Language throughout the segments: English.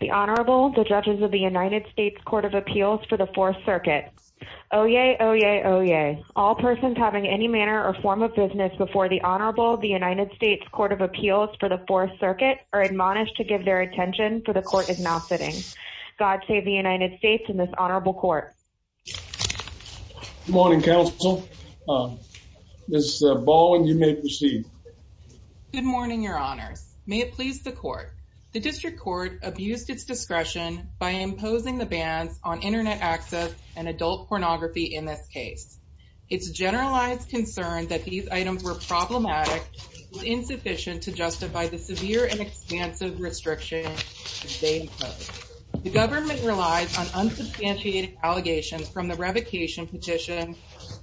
The Honorable, the Judges of the United States Court of Appeals for the Fourth Circuit. Oyez, oyez, oyez. All persons having any manner or form of business before the Honorable, the United States Court of Appeals for the Fourth Circuit are admonished to give their attention, for the Court is now sitting. God save the United States and this Honorable Court. Good morning, Counsel. Ms. Ball, you may proceed. Good morning, Your Honors. May it please the Court. The District Court abused its discretion by imposing the bans on Internet access and adult pornography in this case. Its generalized concern that these items were problematic was insufficient to justify the severe and expansive restrictions they imposed. The government relies on unsubstantiated allegations from the revocation petition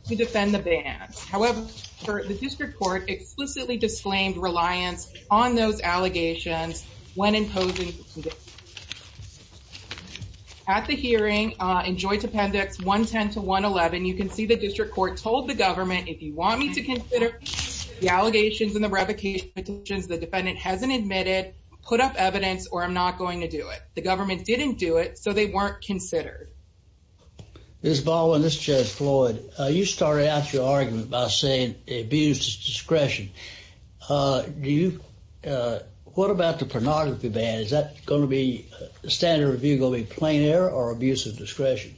to defend the bans. However, the District Court explicitly disclaimed reliance on those allegations when imposing the bans. At the hearing in Joint Appendix 110 to 111, you can see the District Court told the government, if you want me to consider the allegations in the revocation petitions, the defendant hasn't admitted, put up evidence, or I'm not going to do it. The government didn't do it, so they weren't considered. Ms. Ball and Ms. Floyd, you started out your argument by saying they abused discretion. What about the pornography ban? Is that going to be standard review going to be plain error or abuse of discretion?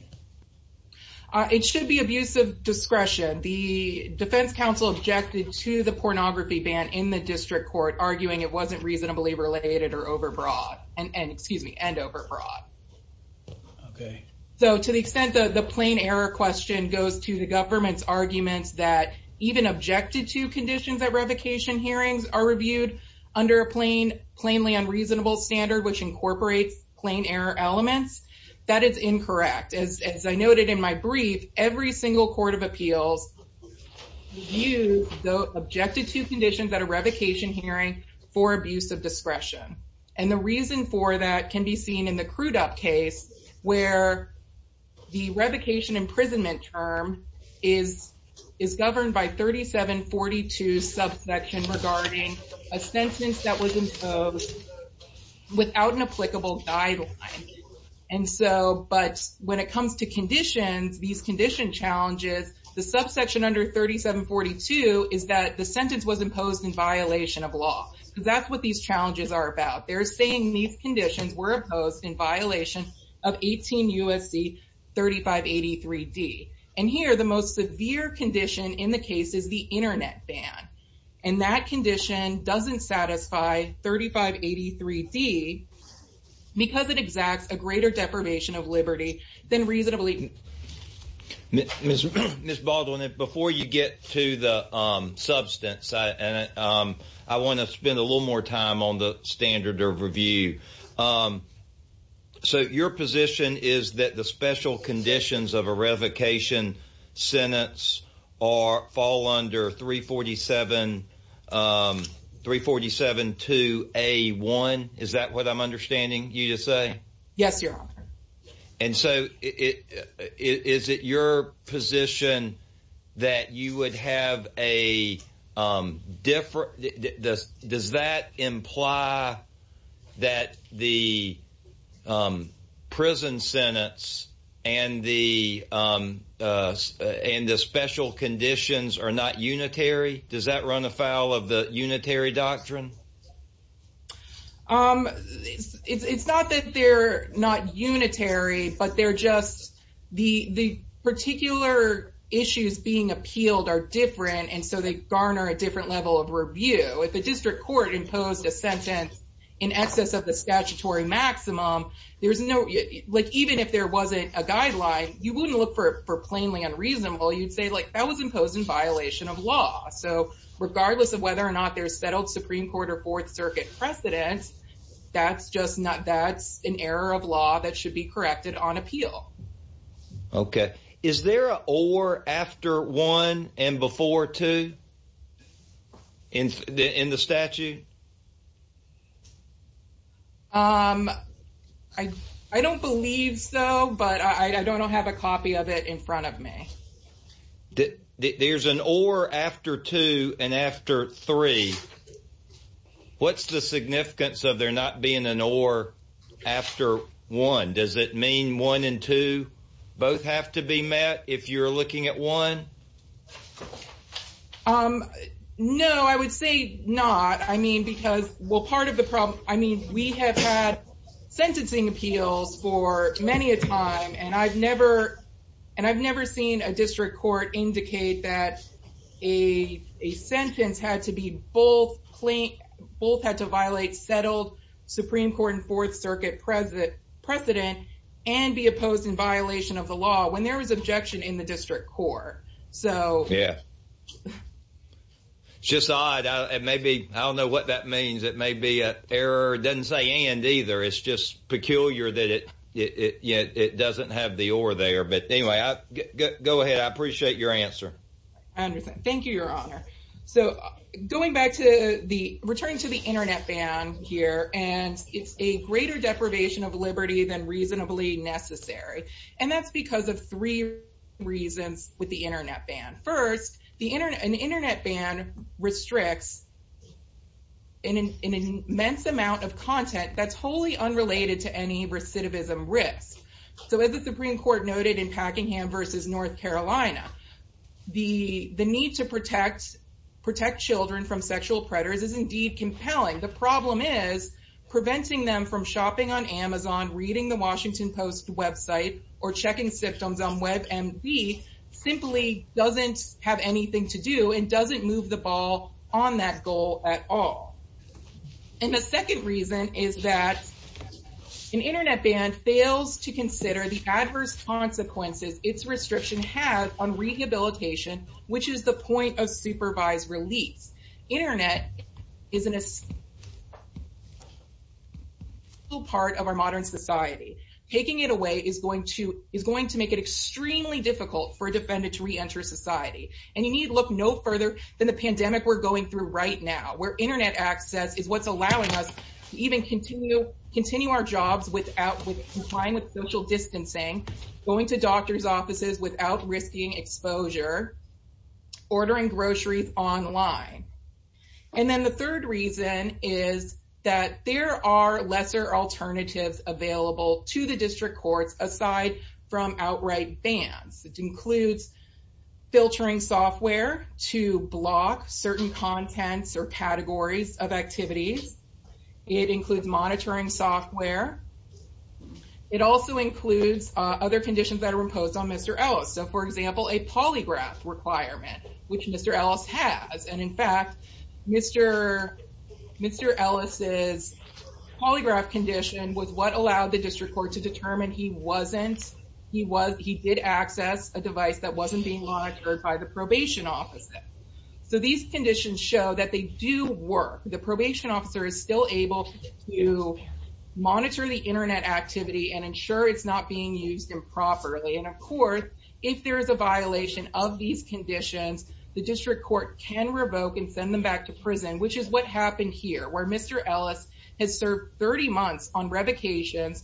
It should be abuse of discretion. The Defense Counsel objected to the pornography ban in the District Court, arguing it wasn't reasonably related and overbroad. To the extent that the plain error question goes to the government's arguments that even objected to conditions at revocation hearings are reviewed under a plainly unreasonable standard which incorporates plain error elements, that is incorrect. As I noted in my brief, every single court of appeals views the objected to conditions at a revocation hearing for abuse of discretion. The reason for that can be seen in the Crudup case, where the revocation imprisonment term is governed by 3742 subsection regarding a sentence that was imposed without an applicable guideline. When it comes to conditions, these condition challenges, the subsection under 3742 is that the sentence was imposed in violation of law, because that's what these challenges are about. They're saying these conditions were imposed in violation of 18 U.S.C. 3583D. And here, the most severe condition in the case is the internet ban, and that condition doesn't satisfy 3583D because it exacts a greater deprivation of liberty than reasonably Ms. Baldwin, before you get to the substance, I want to spend a little more time on the standard of review. So your position is that the special conditions of a revocation sentence fall under 347-2A-1? Is that what I'm understanding you to say? Yes, Your Honor. And so, is it your position that you would have a different, does that imply that the prison sentence and the special conditions are not unitary? Does that run afoul of the unitary doctrine? It's not that they're not unitary, but they're just, the particular issues being appealed are different, and so they garner a different level of review. If a district court imposed a sentence in excess of the statutory maximum, there's no, like, even if there wasn't a guideline, you wouldn't look for plainly unreasonable, you'd say like, that was imposed in violation of law. So regardless of whether or not there's settled Supreme Court or Fourth Circuit precedent, that's just not, that's an error of law that should be corrected on appeal. Okay. Is there an or after one and before two in the statute? I don't believe so, but I don't have a copy of it in front of me. There's an or after two and after three. What's the significance of there not being an or after one? Does it mean one and two both have to be met if you're looking at one? No, I would say not. I mean, because, well, part of the problem, I mean, we have had sentencing appeals for many a time, and I've never seen a district court indicate that a sentence had to be both had to violate settled Supreme Court and Fourth Circuit precedent and be opposed in violation of the law when there was objection in the district court. So yeah. It's just odd, it may be, I don't know what that means. It may be an error, it doesn't say and either. It's just peculiar that it doesn't have the or there, but anyway, go ahead, I appreciate your answer. I understand. Thank you, Your Honor. So going back to the return to the internet ban here, and it's a greater deprivation of liberty than reasonably necessary, and that's because of three reasons with the internet ban. First, an internet ban restricts an immense amount of content that's wholly unrelated to any recidivism risk. So as the Supreme Court noted in Packingham versus North Carolina, the need to protect children from sexual predators is indeed compelling. The problem is preventing them from shopping on Amazon, reading the Washington Post website, or checking symptoms on WebMD simply doesn't have anything to do and doesn't move the ball on that goal at all. And the second reason is that an internet ban fails to consider the adverse consequences its restriction has on rehabilitation, which is the point of supervised release. Internet is an essential part of our modern society. Taking it away is going to make it extremely difficult for a defendant to reenter society, and you need look no further than the pandemic we're going through right now, where internet access is what's allowing us to even continue our jobs with social distancing, going to doctor's offices without risking exposure, ordering groceries online. And then the third reason is that there are lesser alternatives available to the district courts aside from outright bans, which includes filtering software to block certain contents or categories of activities. It includes monitoring software. It also includes other conditions that are imposed on Mr. Ellis. So for example, a polygraph requirement, which Mr. Ellis has, and in fact, Mr. Ellis's polygraph condition was what allowed the district court to determine he did access a device that wasn't being monitored by the probation officer. So these conditions show that they do work. The probation officer is still able to monitor the internet activity and ensure it's not being used improperly. And of course, if there is a violation of these conditions, the district court can revoke and send them back to prison, which is what happened here, where Mr. Ellis has served 30 months on revocations,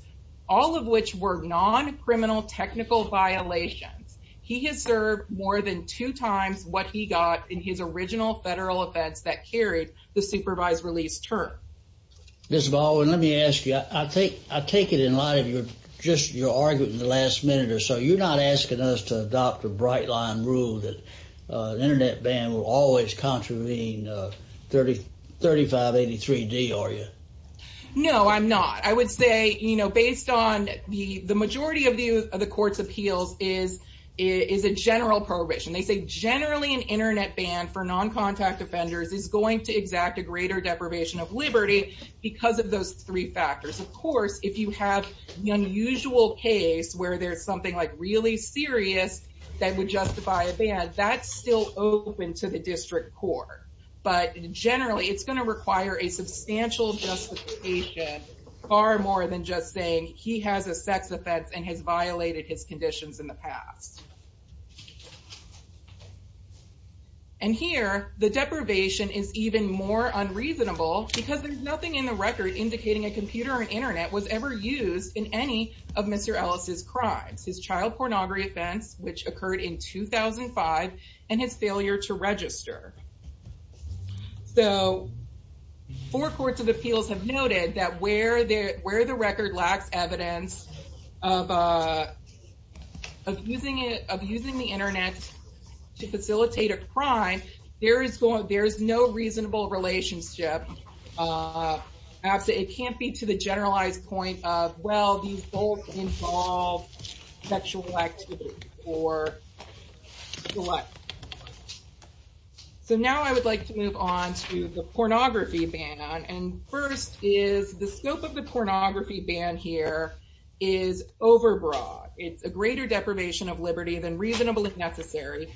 all of which were non-criminal technical violations. He has served more than two times what he got in his original federal offense that carried the supervised release term. Ms. Baldwin, let me ask you, I take it in light of just your argument in the last minute or so, you're not asking us to adopt a bright line rule that an internet ban will always contravene 3583D, are you? No, I'm not. I would say, you know, based on the majority of the court's appeals is a general prohibition. They say generally an internet ban for non-contact offenders is going to exact a greater deprivation of liberty because of those three factors. Of course, if you have the unusual case where there's something like really serious that would justify a ban, that's still open to the district court. But generally, it's going to require a substantial justification, far more than just saying he has a sex offense and has violated his conditions in the past. And here, the deprivation is even more unreasonable because there's nothing in the record indicating a computer or an internet was ever used in any of Mr. Ellis' crimes. His child pornography offense, which occurred in 2005, and his failure to register. So four courts of appeals have noted that where the record lacks evidence of using it of using the internet to facilitate a crime, there is no reasonable relationship. It can't be to the generalized point of, well, these both involve sexual activity or what. So now I would like to move on to the pornography ban. And first is the scope of the pornography ban here is overbroad. It's a greater deprivation of liberty than reasonable if necessary,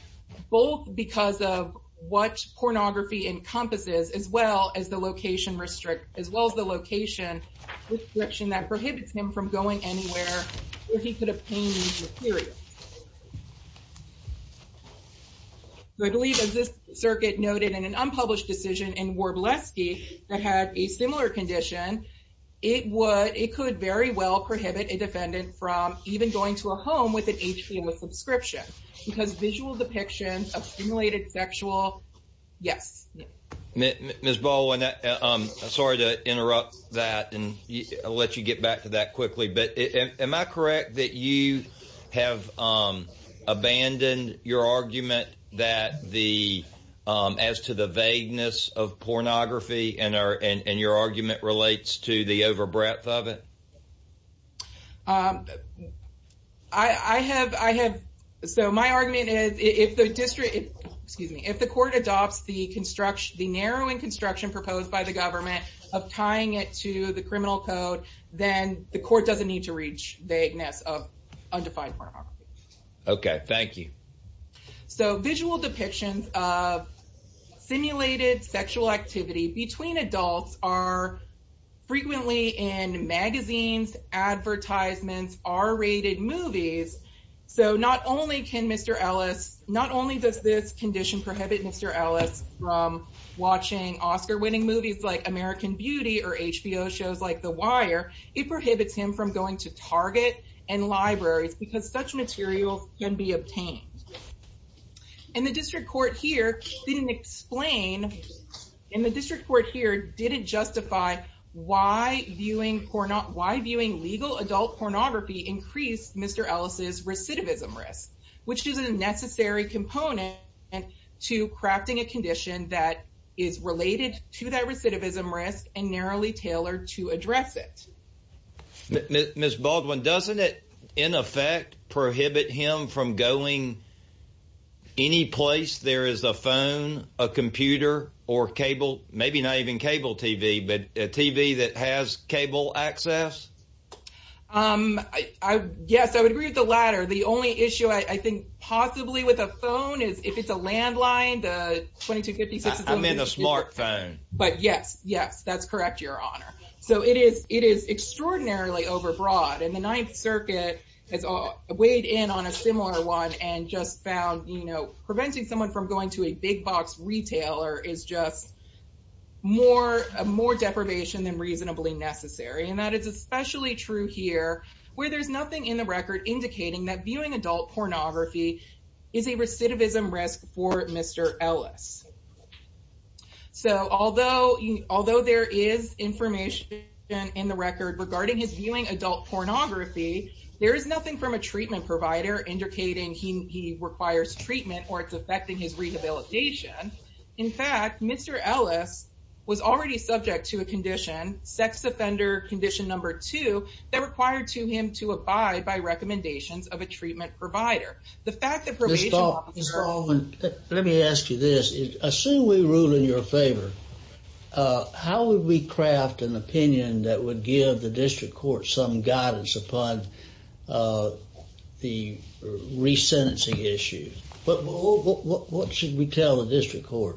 both because of what pornography encompasses, as well as the location restriction that prohibits him from going anywhere where he could have pained and deteriorated. So I believe as this circuit noted in an unpublished decision in Warbleski that had a similar condition, it would, it could very well prohibit a defendant from even going to a home with an HPM with subscription because visual depictions of stimulated sexual, yes. Ms. Baldwin, I'm sorry to interrupt that and let you get back to that quickly, but am I correct that you have abandoned your argument that the, as to the vagueness of pornography and your argument relates to the over breadth of it? I have, I have, so my argument is if the district, excuse me, if the court adopts the construction, the narrowing construction proposed by the government of tying it to the criminal code, then the court doesn't need to reach the vagueness of undefined pornography. Okay, thank you. So visual depictions of simulated sexual activity between adults are frequently in magazines, advertisements, R-rated movies. So not only can Mr. Ellis, not only does this condition prohibit Mr. Ellis from watching Oscar winning movies like American Beauty or HBO shows like The Wire, it prohibits him from going to Target and libraries because such materials can be obtained. And the district court here didn't explain, and the district court here didn't justify why viewing legal adult pornography increased Mr. Ellis' recidivism risk, which is a necessary component to crafting a condition that is related to that recidivism risk and narrowly Ms. Baldwin, doesn't it in effect prohibit him from going any place there is a phone, a computer, or cable, maybe not even cable TV, but a TV that has cable access? Yes, I would agree with the latter. The only issue I think possibly with a phone is if it's a landline, the 2256 is a landline. I'm in a smartphone. But yes, yes, that's correct, your honor. So it is extraordinarily overbroad, and the Ninth Circuit has weighed in on a similar one and just found preventing someone from going to a big box retailer is just more deprivation than reasonably necessary, and that is especially true here where there's nothing in the record indicating that viewing adult pornography is a recidivism risk for Mr. Ellis. So although there is information in the record regarding his viewing adult pornography, there is nothing from a treatment provider indicating he requires treatment or it's affecting his rehabilitation. In fact, Mr. Ellis was already subject to a condition, sex offender condition number two, that required him to abide by recommendations of a treatment provider. The fact that probation officers... Ms. Thalman, let me ask you this. Assume we rule in your favor, how would we craft an opinion that would give the district court some guidance upon the re-sentencing issue? What should we tell the district court?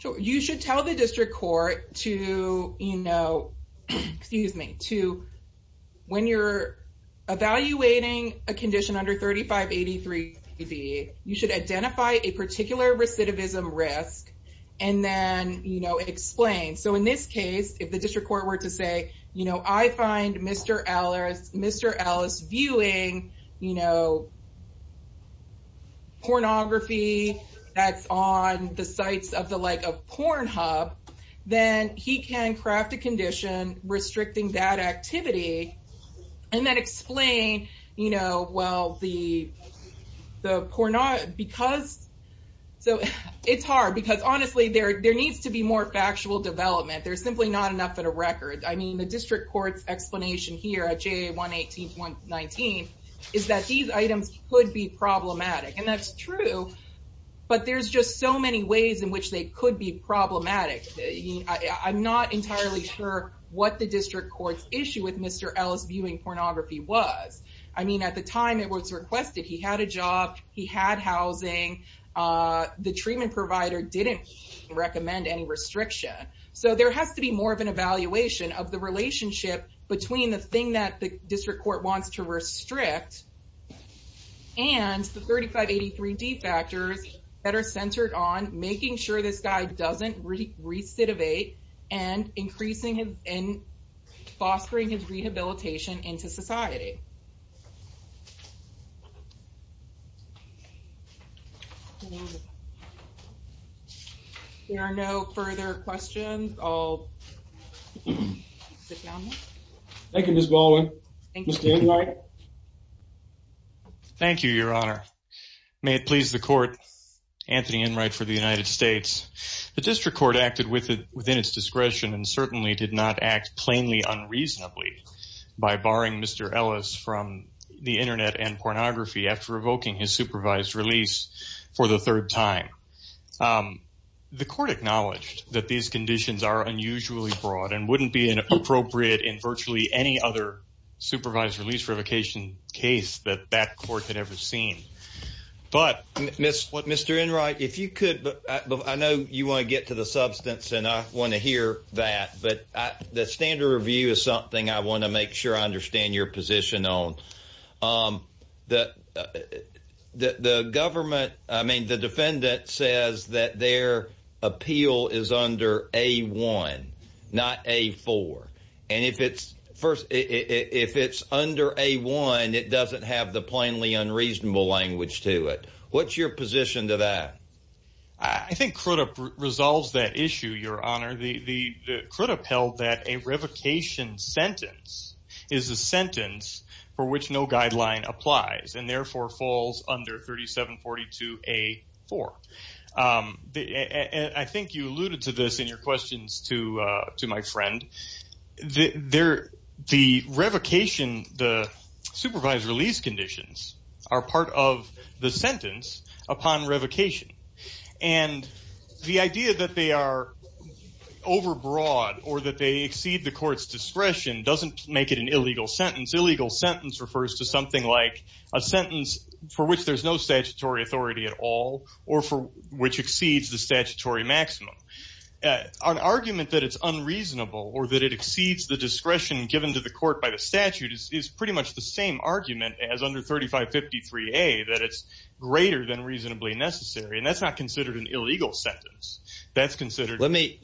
Sure. You should tell the district court to, you know, excuse me, to when you're evaluating a condition under 3583B, you should identify a particular recidivism risk and then, you know, explain. So in this case, if the district court were to say, you know, I find Mr. Ellis viewing, you know, pornography that's on the sites of the like of Pornhub, then he can craft a condition restricting that activity and then explain, you know, well, the pornography because... So it's hard because honestly, there needs to be more factual development. There's simply not enough in a record. I mean, the district court's explanation here at JA 118.19 is that these items could be problematic and that's true, but there's just so many ways in which they could be problematic. I'm not entirely sure what the district court's issue with Mr. Ellis viewing pornography was. I mean, at the time it was requested, he had a job, he had housing, the treatment provider didn't recommend any restriction. So there has to be more of an evaluation of the relationship between the thing that the district court wants to restrict and the 3583D factors that are centered on making sure this guy doesn't recidivate and increasing and fostering his rehabilitation into society. There are no further questions. I'll sit down now. Thank you, Ms. Baldwin. Thank you. Mr. Enright. Thank you, Your Honor. May it please the court, Anthony Enright for the United States. The district court acted within its discretion and certainly did not act plainly unreasonably by barring Mr. Ellis from having access to his property. The Internet and pornography after revoking his supervised release for the third time. The court acknowledged that these conditions are unusually broad and wouldn't be an appropriate in virtually any other supervised release revocation case that that court had ever seen. But Mr. Enright, if you could, I know you want to get to the substance and I want to hear that. But the standard review is something I want to make sure I understand your position on that. The government I mean, the defendant says that their appeal is under a one, not a four. And if it's first if it's under a one, it doesn't have the plainly unreasonable language to it. What's your position to that? I think Crudup resolves that issue. Your Honor, the Crudup held that a revocation sentence is a sentence for which no guideline applies and therefore falls under 3742A4. I think you alluded to this in your questions to to my friend there. The revocation, the supervised release conditions are part of the sentence upon revocation. And the idea that they are overbroad or that they exceed the court's discretion doesn't make it an illegal sentence. Illegal sentence refers to something like a sentence for which there's no statutory authority at all or for which exceeds the statutory maximum. An argument that it's unreasonable or that it exceeds the discretion given to the court by the statute is pretty much the same argument as under 3553A that it's greater than reasonably necessary. And that's not considered an illegal sentence. That's considered. Let me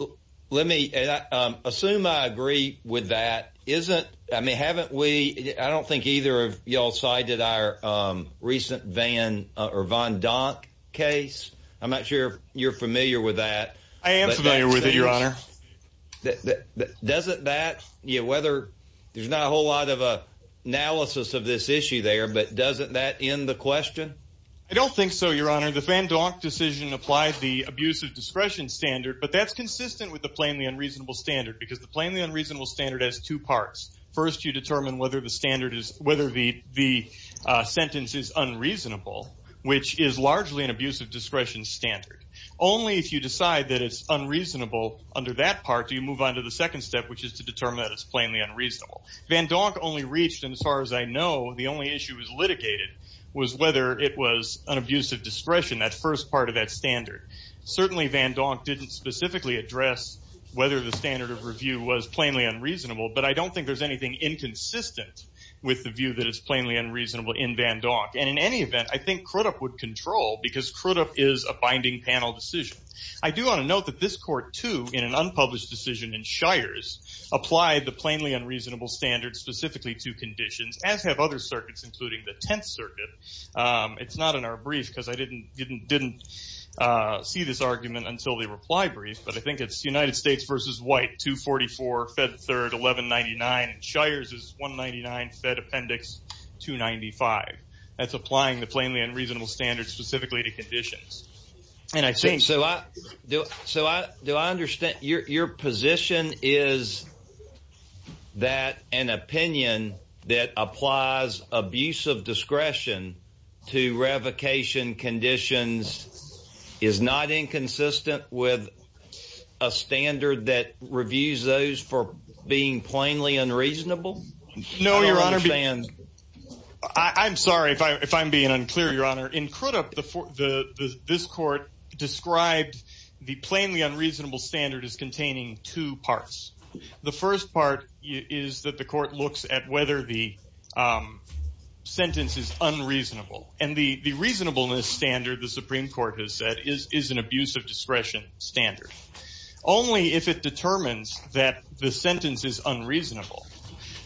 let me assume I agree with that. Isn't I mean, haven't we? I don't think either of y'all cited our recent Van or Von Donk case. I'm not sure you're familiar with that. I am familiar with it, Your Honor. Doesn't that whether there's not a whole lot of analysis of this issue there, but doesn't that end the question? I don't think so, Your Honor. The Van Donk decision applies the abusive discretion standard, but that's consistent with the plainly unreasonable standard because the plainly unreasonable standard has two parts. First, you determine whether the standard is whether the sentence is unreasonable, which is largely an abusive discretion standard. Only if you decide that it's unreasonable under that part do you move on to the second step, which is to determine that it's plainly unreasonable. Van Donk only reached, and as far as I know, the only issue was litigated, was whether it was an abusive discretion, that first part of that standard. Certainly Van Donk didn't specifically address whether the standard of review was plainly unreasonable, but I don't think there's anything inconsistent with the view that it's plainly unreasonable in Van Donk. And in any event, I think Crudup would control because Crudup is a binding panel decision. I do want to note that this court, too, in an unpublished decision in Shires, applied the plainly unreasonable standard specifically to conditions, as have other circuits, including the Tenth Circuit. It's not in our brief because I didn't see this argument until the reply brief, but I think it's United States v. White, 244, Fed Third, 1199. Shires is 199, Fed Appendix 295. That's applying the plainly unreasonable standard specifically to conditions. So do I understand your position is that an opinion that applies abusive discretion to revocation conditions is not inconsistent with a standard that reviews those for being plainly unreasonable? No, Your Honor. I'm sorry if I'm being unclear, Your Honor. In Crudup, this court described the plainly unreasonable standard as containing two parts. The first part is that the court looks at whether the sentence is unreasonable. And the reasonableness standard, the Supreme Court has said, is an abusive discretion standard. Only if it determines that the sentence is unreasonable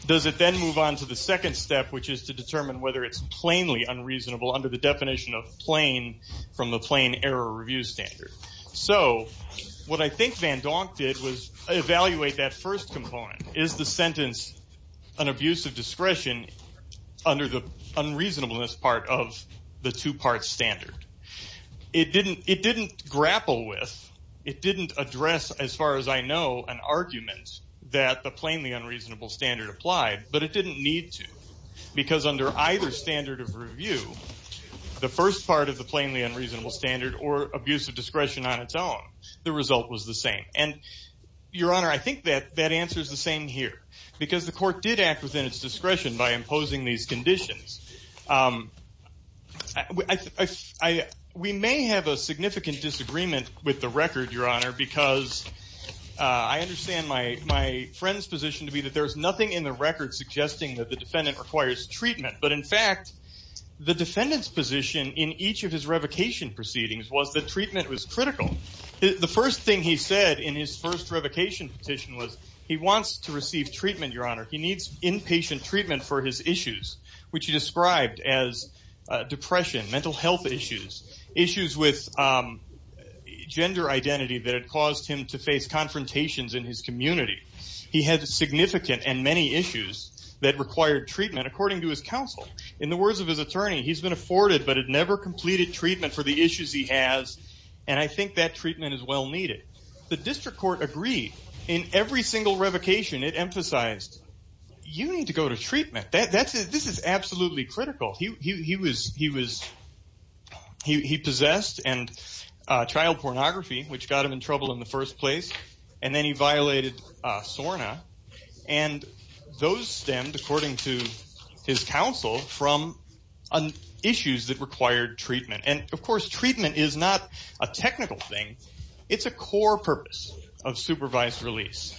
does it then move on to the second step, which is to determine whether it's plainly unreasonable under the definition of plain from the plain error review standard. So what I think Van Donk did was evaluate that first component. Is the sentence an abusive discretion under the unreasonableness part of the two-part standard? It didn't grapple with, it didn't address, as far as I know, an argument that the plainly unreasonable standard applied, but it didn't need to because under either standard of review, the first part of the plainly unreasonable standard or abusive discretion on its own, the result was the same. And, Your Honor, I think that that answer is the same here because the court did act within its discretion by imposing these conditions. We may have a significant disagreement with the record, Your Honor, because I understand my friend's position to be that there is nothing in the record suggesting that the defendant requires treatment. But, in fact, the defendant's position in each of his revocation proceedings was that treatment was critical. The first thing he said in his first revocation petition was he wants to receive treatment, Your Honor. He needs inpatient treatment for his issues, which he described as depression, mental health issues, issues with gender identity that had caused him to face confrontations in his community. He had significant and many issues that required treatment, according to his counsel. In the words of his attorney, he's been afforded but had never completed treatment for the issues he has, and I think that treatment is well needed. The district court agreed in every single revocation. It emphasized you need to go to treatment. This is absolutely critical. He possessed child pornography, which got him in trouble in the first place, and then he violated SORNA, and those stemmed, according to his counsel, from issues that required treatment. And, of course, treatment is not a technical thing. It's a core purpose of supervised release,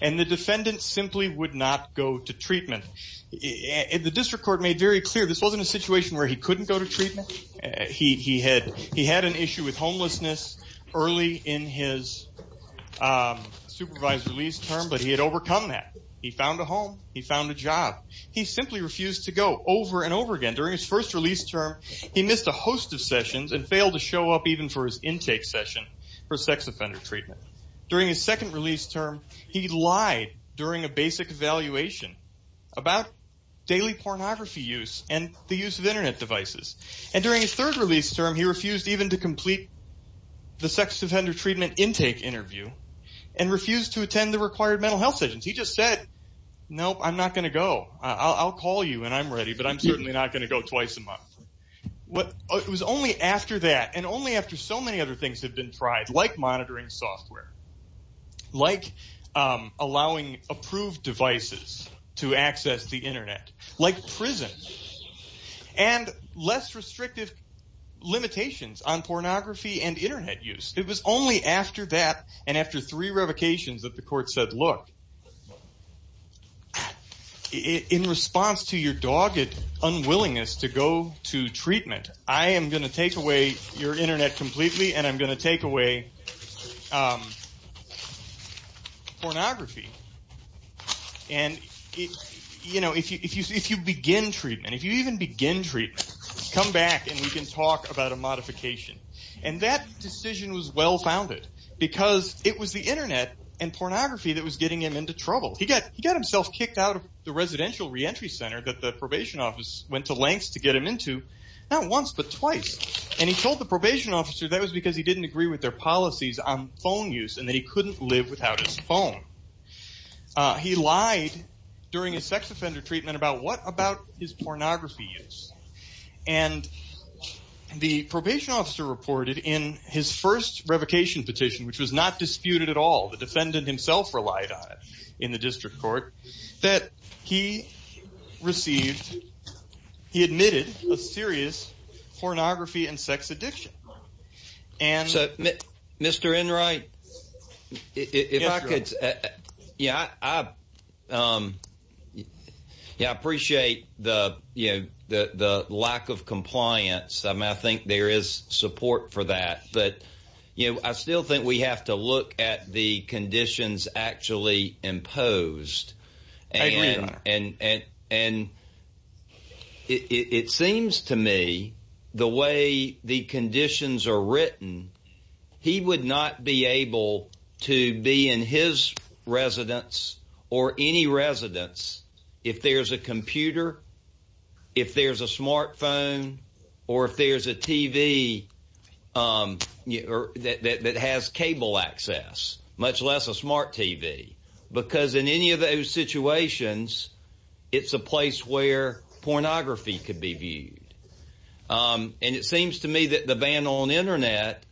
and the defendant simply would not go to treatment. The district court made very clear this wasn't a situation where he couldn't go to treatment. He had an issue with homelessness early in his supervised release term, but he had overcome that. He found a home. He found a job. He simply refused to go over and over again. During his first release term, he missed a host of sessions and failed to show up even for his intake session for sex offender treatment. During his second release term, he lied during a basic evaluation about daily pornography use and the use of Internet devices. And during his third release term, he refused even to complete the sex offender treatment intake interview and refused to attend the required mental health sessions. He just said, nope, I'm not going to go. I'll call you when I'm ready, but I'm certainly not going to go twice a month. It was only after that and only after so many other things have been tried, like monitoring software, like allowing approved devices to access the Internet, like prisons, and less restrictive limitations on pornography and Internet use. It was only after that and after three revocations that the court said, look, in response to your dogged unwillingness to go to treatment, I am going to take away your Internet completely and I'm going to take away pornography. And, you know, if you begin treatment, if you even begin treatment, come back and we can talk about a modification. And that decision was well founded because it was the Internet and pornography that was getting him into trouble. He got himself kicked out of the residential reentry center that the probation office went to lengths to get him into, not once but twice. And he told the probation officer that was because he didn't agree with their policies on phone use and that he couldn't live without his phone. He lied during his sex offender treatment about what about his pornography use. And the probation officer reported in his first revocation petition, which was not disputed at all, the defendant himself relied on it in the district court, that he received, he admitted a serious pornography and sex addiction. And so, Mr. Enright, if I could. Yeah, I appreciate the, you know, the lack of compliance. I mean, I think there is support for that. But, you know, I still think we have to look at the conditions actually imposed. And it seems to me the way the conditions are written, he would not be able to be in his residence or any residence if there's a computer, if there's a smartphone or if there's a TV that has cable access, much less a smart TV. Because in any of those situations, it's a place where pornography could be viewed. And it seems to me that the ban on Internet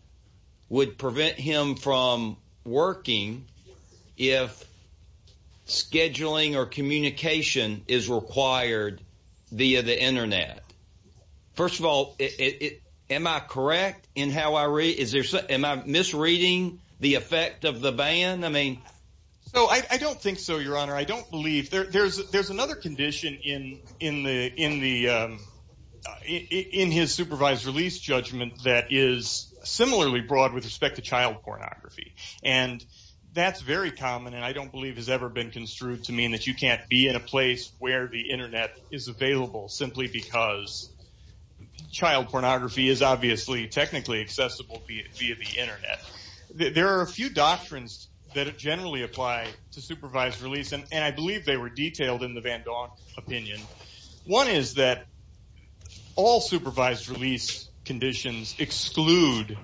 would prevent him from working if scheduling or communication is required via the Internet. First of all, am I correct in how I read? Am I misreading the effect of the ban? No, I don't think so, Your Honor. I don't believe there's another condition in his supervised release judgment that is similarly broad with respect to child pornography. And that's very common and I don't believe has ever been construed to mean that you can't be in a place where the Internet is available simply because child pornography is obviously technically accessible via the Internet. There are a few doctrines that generally apply to supervised release and I believe they were detailed in the van Gogh opinion. One is that all supervised release conditions exclude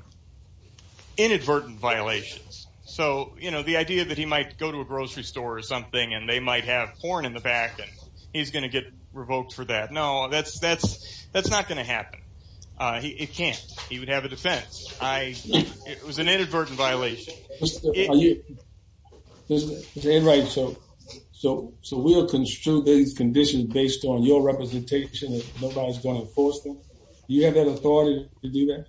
inadvertent violations. So the idea that he might go to a grocery store or something and they might have porn in the back and he's going to get revoked for that. No, that's not going to happen. It can't. He would have a defense. It was an inadvertent violation. Mr. Enright, so we'll construe these conditions based on your representation and nobody's going to enforce them? Do you have that authority to do that?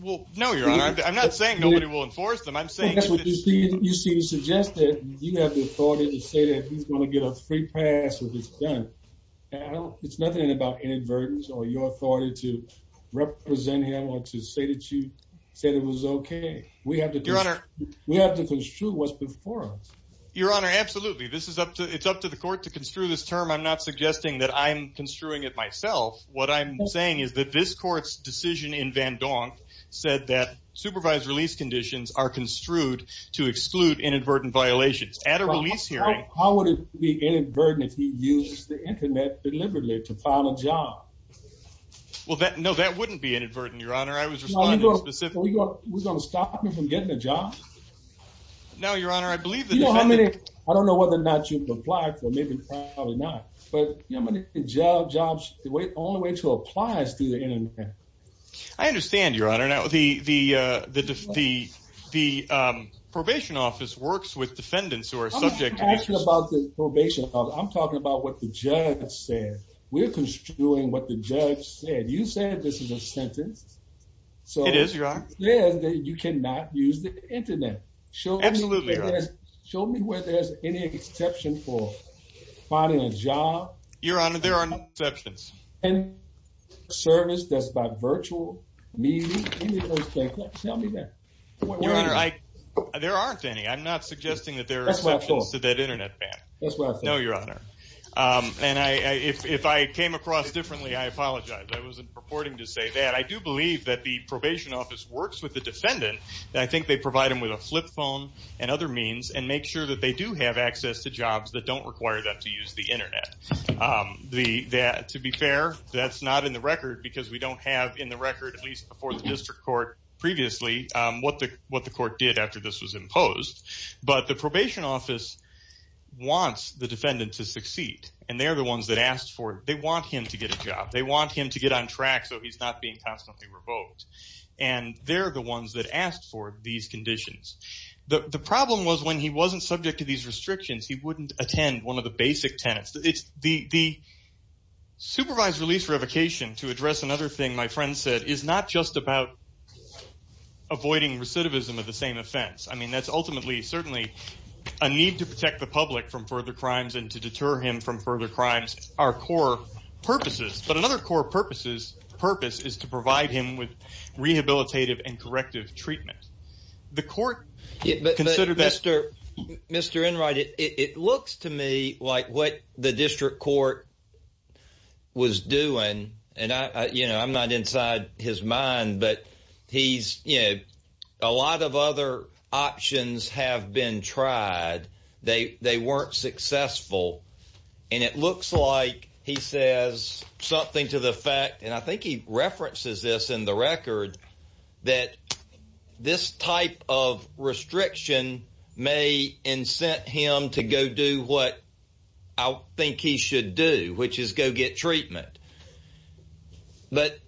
Well, no, Your Honor. I'm not saying nobody will enforce them. I'm saying that's what it's supposed to be. You seem to suggest that you have the authority to say that he's going to get a free pass if it's done. It's nothing about inadvertence or your authority to represent him or to say that you said it was okay. Your Honor. We have to construe what's before us. Your Honor, absolutely. It's up to the court to construe this term. I'm not suggesting that I'm construing it myself. What I'm saying is that this court's decision in van Gogh said that supervised release conditions are construed to exclude inadvertent violations. At a release hearing. How would it be inadvertent if he used the Internet deliberately to file a job? No, that wouldn't be inadvertent, Your Honor. We're going to stop him from getting a job? No, Your Honor. I don't know whether or not you'd apply for it. Maybe probably not. But jobs, the only way to apply is through the Internet. I understand, Your Honor. The probation office works with defendants who are subject to this. I'm not talking about the probation office. I'm talking about what the judge said. We're construing what the judge said. You said this is a sentence. It is, Your Honor. You said that you cannot use the Internet. Absolutely, Your Honor. Show me where there's any exception for filing a job. Your Honor, there are no exceptions. Any service that's by virtual means, any of those things. Tell me that. Your Honor, there aren't any. I'm not suggesting that there are exceptions to that Internet ban. That's what I thought. No, Your Honor. If I came across differently, I apologize. I wasn't purporting to say that. I do believe that the probation office works with the defendant. I think they provide them with a flip phone and other means and make sure that they do have access to jobs that don't require them to use the Internet. To be fair, that's not in the record because we don't have in the record, at least before the district court previously, what the court did after this was imposed. But the probation office wants the defendant to succeed, and they're the ones that asked for it. They want him to get a job. They want him to get on track so he's not being constantly revoked, and they're the ones that asked for these conditions. The problem was when he wasn't subject to these restrictions, he wouldn't attend one of the basic tenets. The supervised release revocation, to address another thing my friend said, is not just about avoiding recidivism of the same offense. I mean that's ultimately certainly a need to protect the public from further crimes and to deter him from further crimes, our core purposes. But another core purpose is to provide him with rehabilitative and corrective treatment. The court considered that. Mr. Enright, it looks to me like what the district court was doing, and I'm not inside his mind, but a lot of other options have been tried. They weren't successful. And it looks like he says something to the effect, and I think he references this in the record, that this type of restriction may incent him to go do what I think he should do, which is go get treatment. But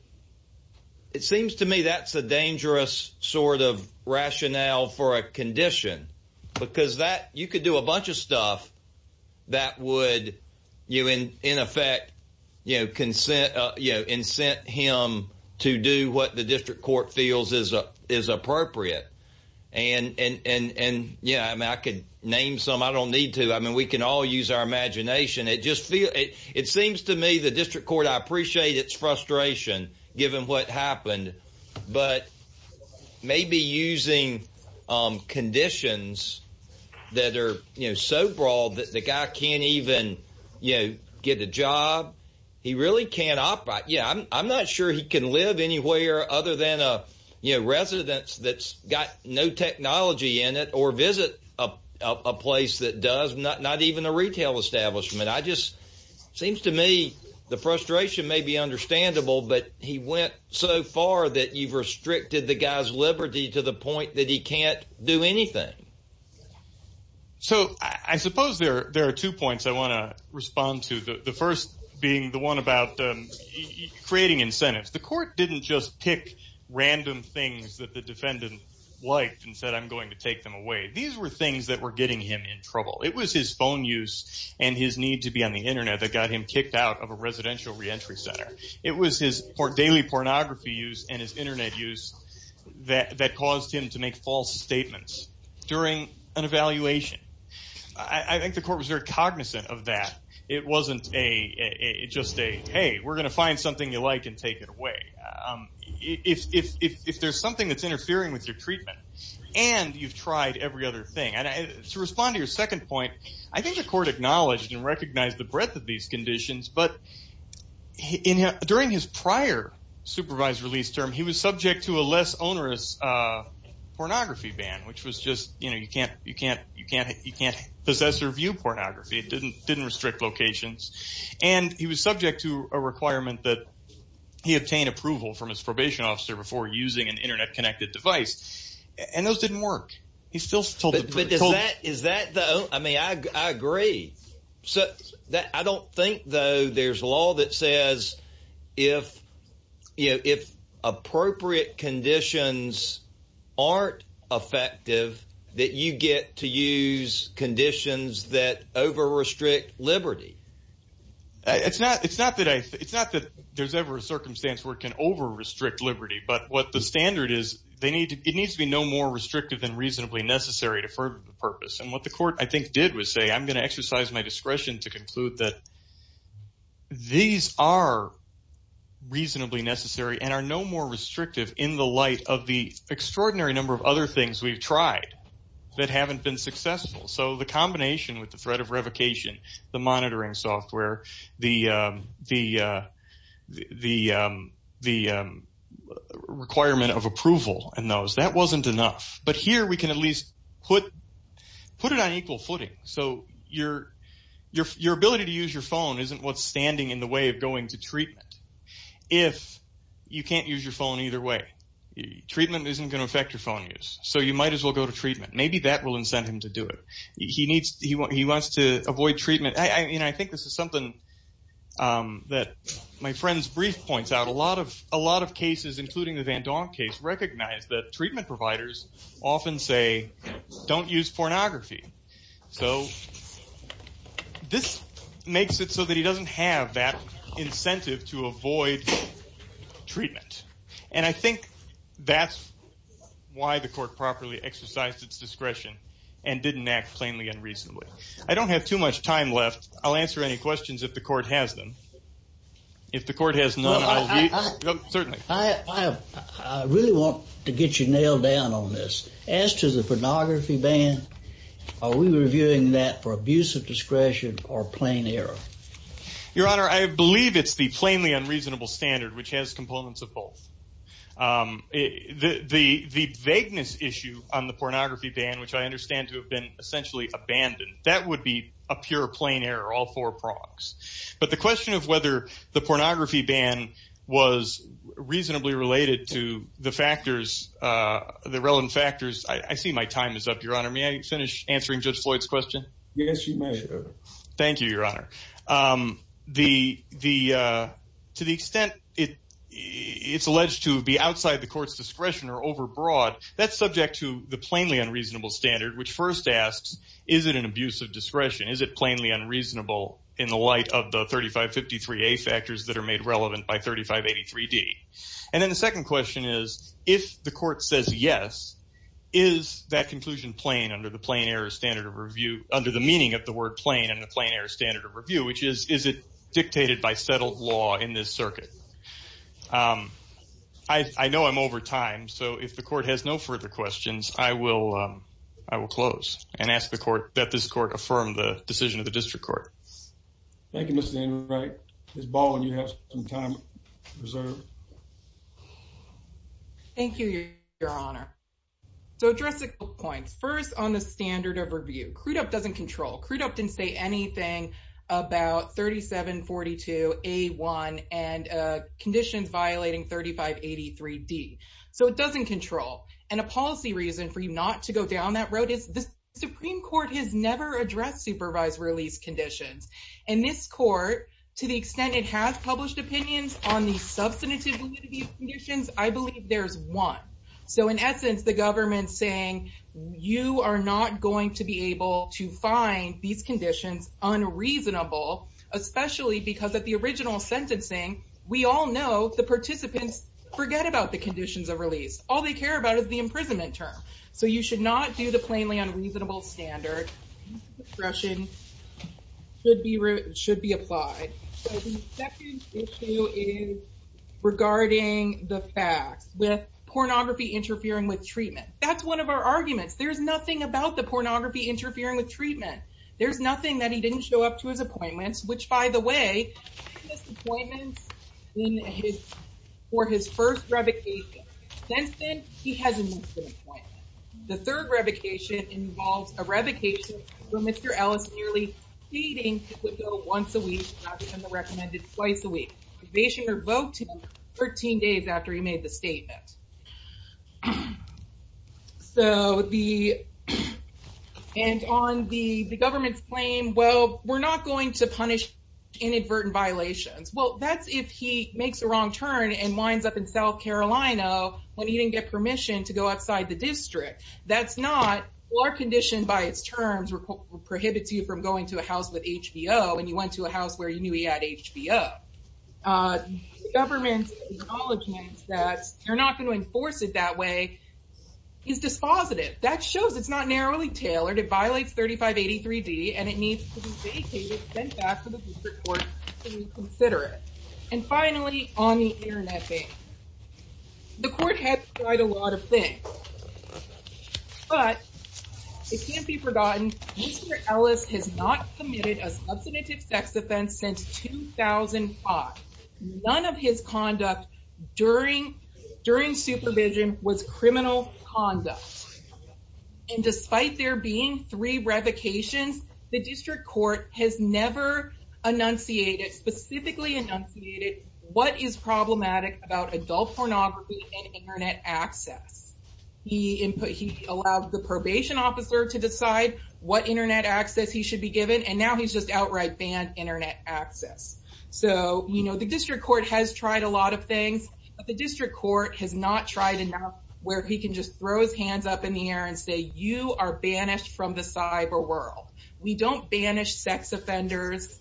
it seems to me that's a dangerous sort of rationale for a condition, because you could do a bunch of stuff that would, in effect, incent him to do what the district court feels is appropriate. And I could name some. I don't need to. I mean we can all use our imagination. It seems to me the district court, I appreciate its frustration, given what happened, but maybe using conditions that are so broad that the guy can't even get a job. He really can't operate. I'm not sure he can live anywhere other than a residence that's got no technology in it or visit a place that does, not even a retail establishment. It seems to me the frustration may be understandable, but he went so far that you've restricted the guy's liberty to the point that he can't do anything. So I suppose there are two points I want to respond to, the first being the one about creating incentives. The court didn't just pick random things that the defendant liked and said, I'm going to take them away. These were things that were getting him in trouble. It was his phone use and his need to be on the Internet that got him kicked out of a residential reentry center. It was his daily pornography use and his Internet use that caused him to make false statements during an evaluation. I think the court was very cognizant of that. It wasn't just a, hey, we're going to find something you like and take it away. If there's something that's interfering with your treatment and you've tried every other thing. To respond to your second point, I think the court acknowledged and recognized the breadth of these conditions, but during his prior supervised release term, he was subject to a less onerous pornography ban, which was just, you can't possess or view pornography. It didn't restrict locations. And he was subject to a requirement that he obtain approval from his probation officer before using an Internet connected device. And those didn't work. He still told the court. Is that the, I mean, I agree. I don't think, though, there's law that says if appropriate conditions aren't effective, that you get to use conditions that over-restrict liberty. It's not that there's ever a circumstance where it can over-restrict liberty. But what the standard is, it needs to be no more restrictive than reasonably necessary to further the purpose. And what the court, I think, did was say, I'm going to exercise my discretion to conclude that these are reasonably necessary and are no more restrictive in the light of the extraordinary number of other things we've tried that haven't been successful. So the combination with the threat of revocation, the monitoring software, the requirement of approval and those, that wasn't enough. But here we can at least put it on equal footing. So your ability to use your phone isn't what's standing in the way of going to treatment. If you can't use your phone either way, treatment isn't going to affect your phone use. So you might as well go to treatment. Maybe that will incent him to do it. He wants to avoid treatment. I think this is something that my friend's brief points out. A lot of cases, including the Van Donk case, recognize that treatment providers often say, don't use pornography. So this makes it so that he doesn't have that incentive to avoid treatment. And I think that's why the court properly exercised its discretion and didn't act plainly and reasonably. I don't have too much time left. I'll answer any questions if the court has them. If the court has none, I'll leave. Certainly. I really want to get you nailed down on this. As to the pornography ban, are we reviewing that for abuse of discretion or plain error? Your Honor, I believe it's the plainly unreasonable standard, which has components of both. The vagueness issue on the pornography ban, which I understand to have been essentially abandoned, that would be a pure plain error, all four prongs. But the question of whether the pornography ban was reasonably related to the factors, the relevant factors, I see my time is up, Your Honor. May I finish answering Judge Floyd's question? Yes, you may. Thank you, Your Honor. To the extent it's alleged to be outside the court's discretion or overbroad, that's subject to the plainly unreasonable standard, which first asks, is it an abuse of discretion? Is it plainly unreasonable in the light of the 3553A factors that are made relevant by 3583D? And then the second question is, if the court says yes, is that conclusion plain under the meaning of the word plain and the plain error standard of review, which is, is it dictated by settled law in this circuit? I know I'm over time, so if the court has no further questions, I will close and ask the court that this court affirm the decision of the district court. Thank you, Mr. Enright. Ms. Baldwin, you have some time reserved. Thank you, Your Honor. So address the points. First, on the standard of review, Crudup doesn't control. Crudup didn't say anything about 3742A1 and conditions violating 3583D. So it doesn't control. And a policy reason for you not to go down that road is the Supreme Court has never addressed supervised release conditions. And this court, to the extent it has published opinions on the substantive conditions, I believe there's one. So in essence, the government's saying you are not going to be able to find these conditions unreasonable, especially because of the original sentencing. We all know the participants forget about the conditions of release. All they care about is the imprisonment term. So you should not do the plainly unreasonable standard. This discretion should be should be applied. The second issue is regarding the facts with pornography interfering with treatment. That's one of our arguments. There's nothing about the pornography interfering with treatment. There's nothing that he didn't show up to his appointments, which, by the way, he missed appointments for his first revocation. The third revocation involves a revocation where Mr. Ellis nearly fading to go once a week rather than the recommended twice a week. The probationer revoked him 13 days after he made the statement. And on the government's claim, well, we're not going to punish inadvertent violations. Well, that's if he makes a wrong turn and winds up in South Carolina when he didn't get permission to go outside the district. That's not our condition by its terms prohibits you from going to a house with HBO and you went to a house where you knew he had HBO. The government's acknowledgement that you're not going to enforce it that way is dispositive. That shows it's not narrowly tailored. It violates 3583 D. And it needs to be vacated, sent back to the court to reconsider it. And finally, on the Internet thing, the court had tried a lot of things, but it can't be forgotten. Mr. Ellis has not committed a substantive sex offense since 2005. None of his conduct during during supervision was criminal conduct. And despite there being three revocations, the district court has never enunciated specifically enunciated. What is problematic about adult pornography and Internet access? He input he allowed the probation officer to decide what Internet access he should be given. And now he's just outright banned Internet access. So, you know, the district court has tried a lot of things, but the district court has not tried enough where he can just throw his hands up in the air and say, you are banished from the cyber world. We don't banish sex offenders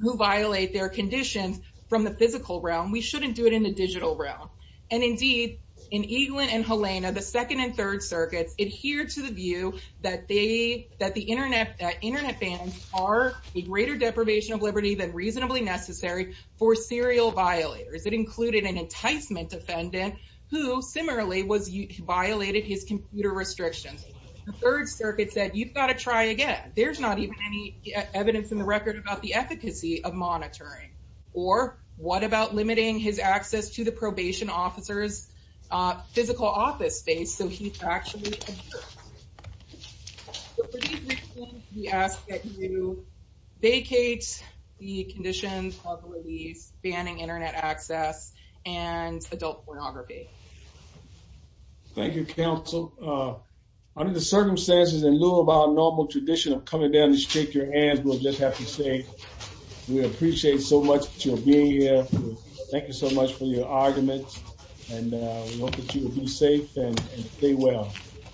who violate their conditions from the physical realm. We shouldn't do it in the digital realm. And indeed, in England and Helena, the second and third circuits adhere to the view that they that the Internet Internet bans are a greater deprivation of liberty than reasonably necessary for serial violators. It included an enticement defendant who similarly was violated his computer restrictions. The third circuit said you've got to try again. There's not even any evidence in the record about the efficacy of monitoring. Or what about limiting his access to the probation officer's physical office space? So he's actually asked that you vacate the conditions of banning Internet access and adult pornography. Thank you, counsel. Under the circumstances, in lieu of our normal tradition of coming down to shake your hand, we'll just have to say we appreciate so much for being here. Thank you so much for your argument. And we hope that you will be safe and stay well.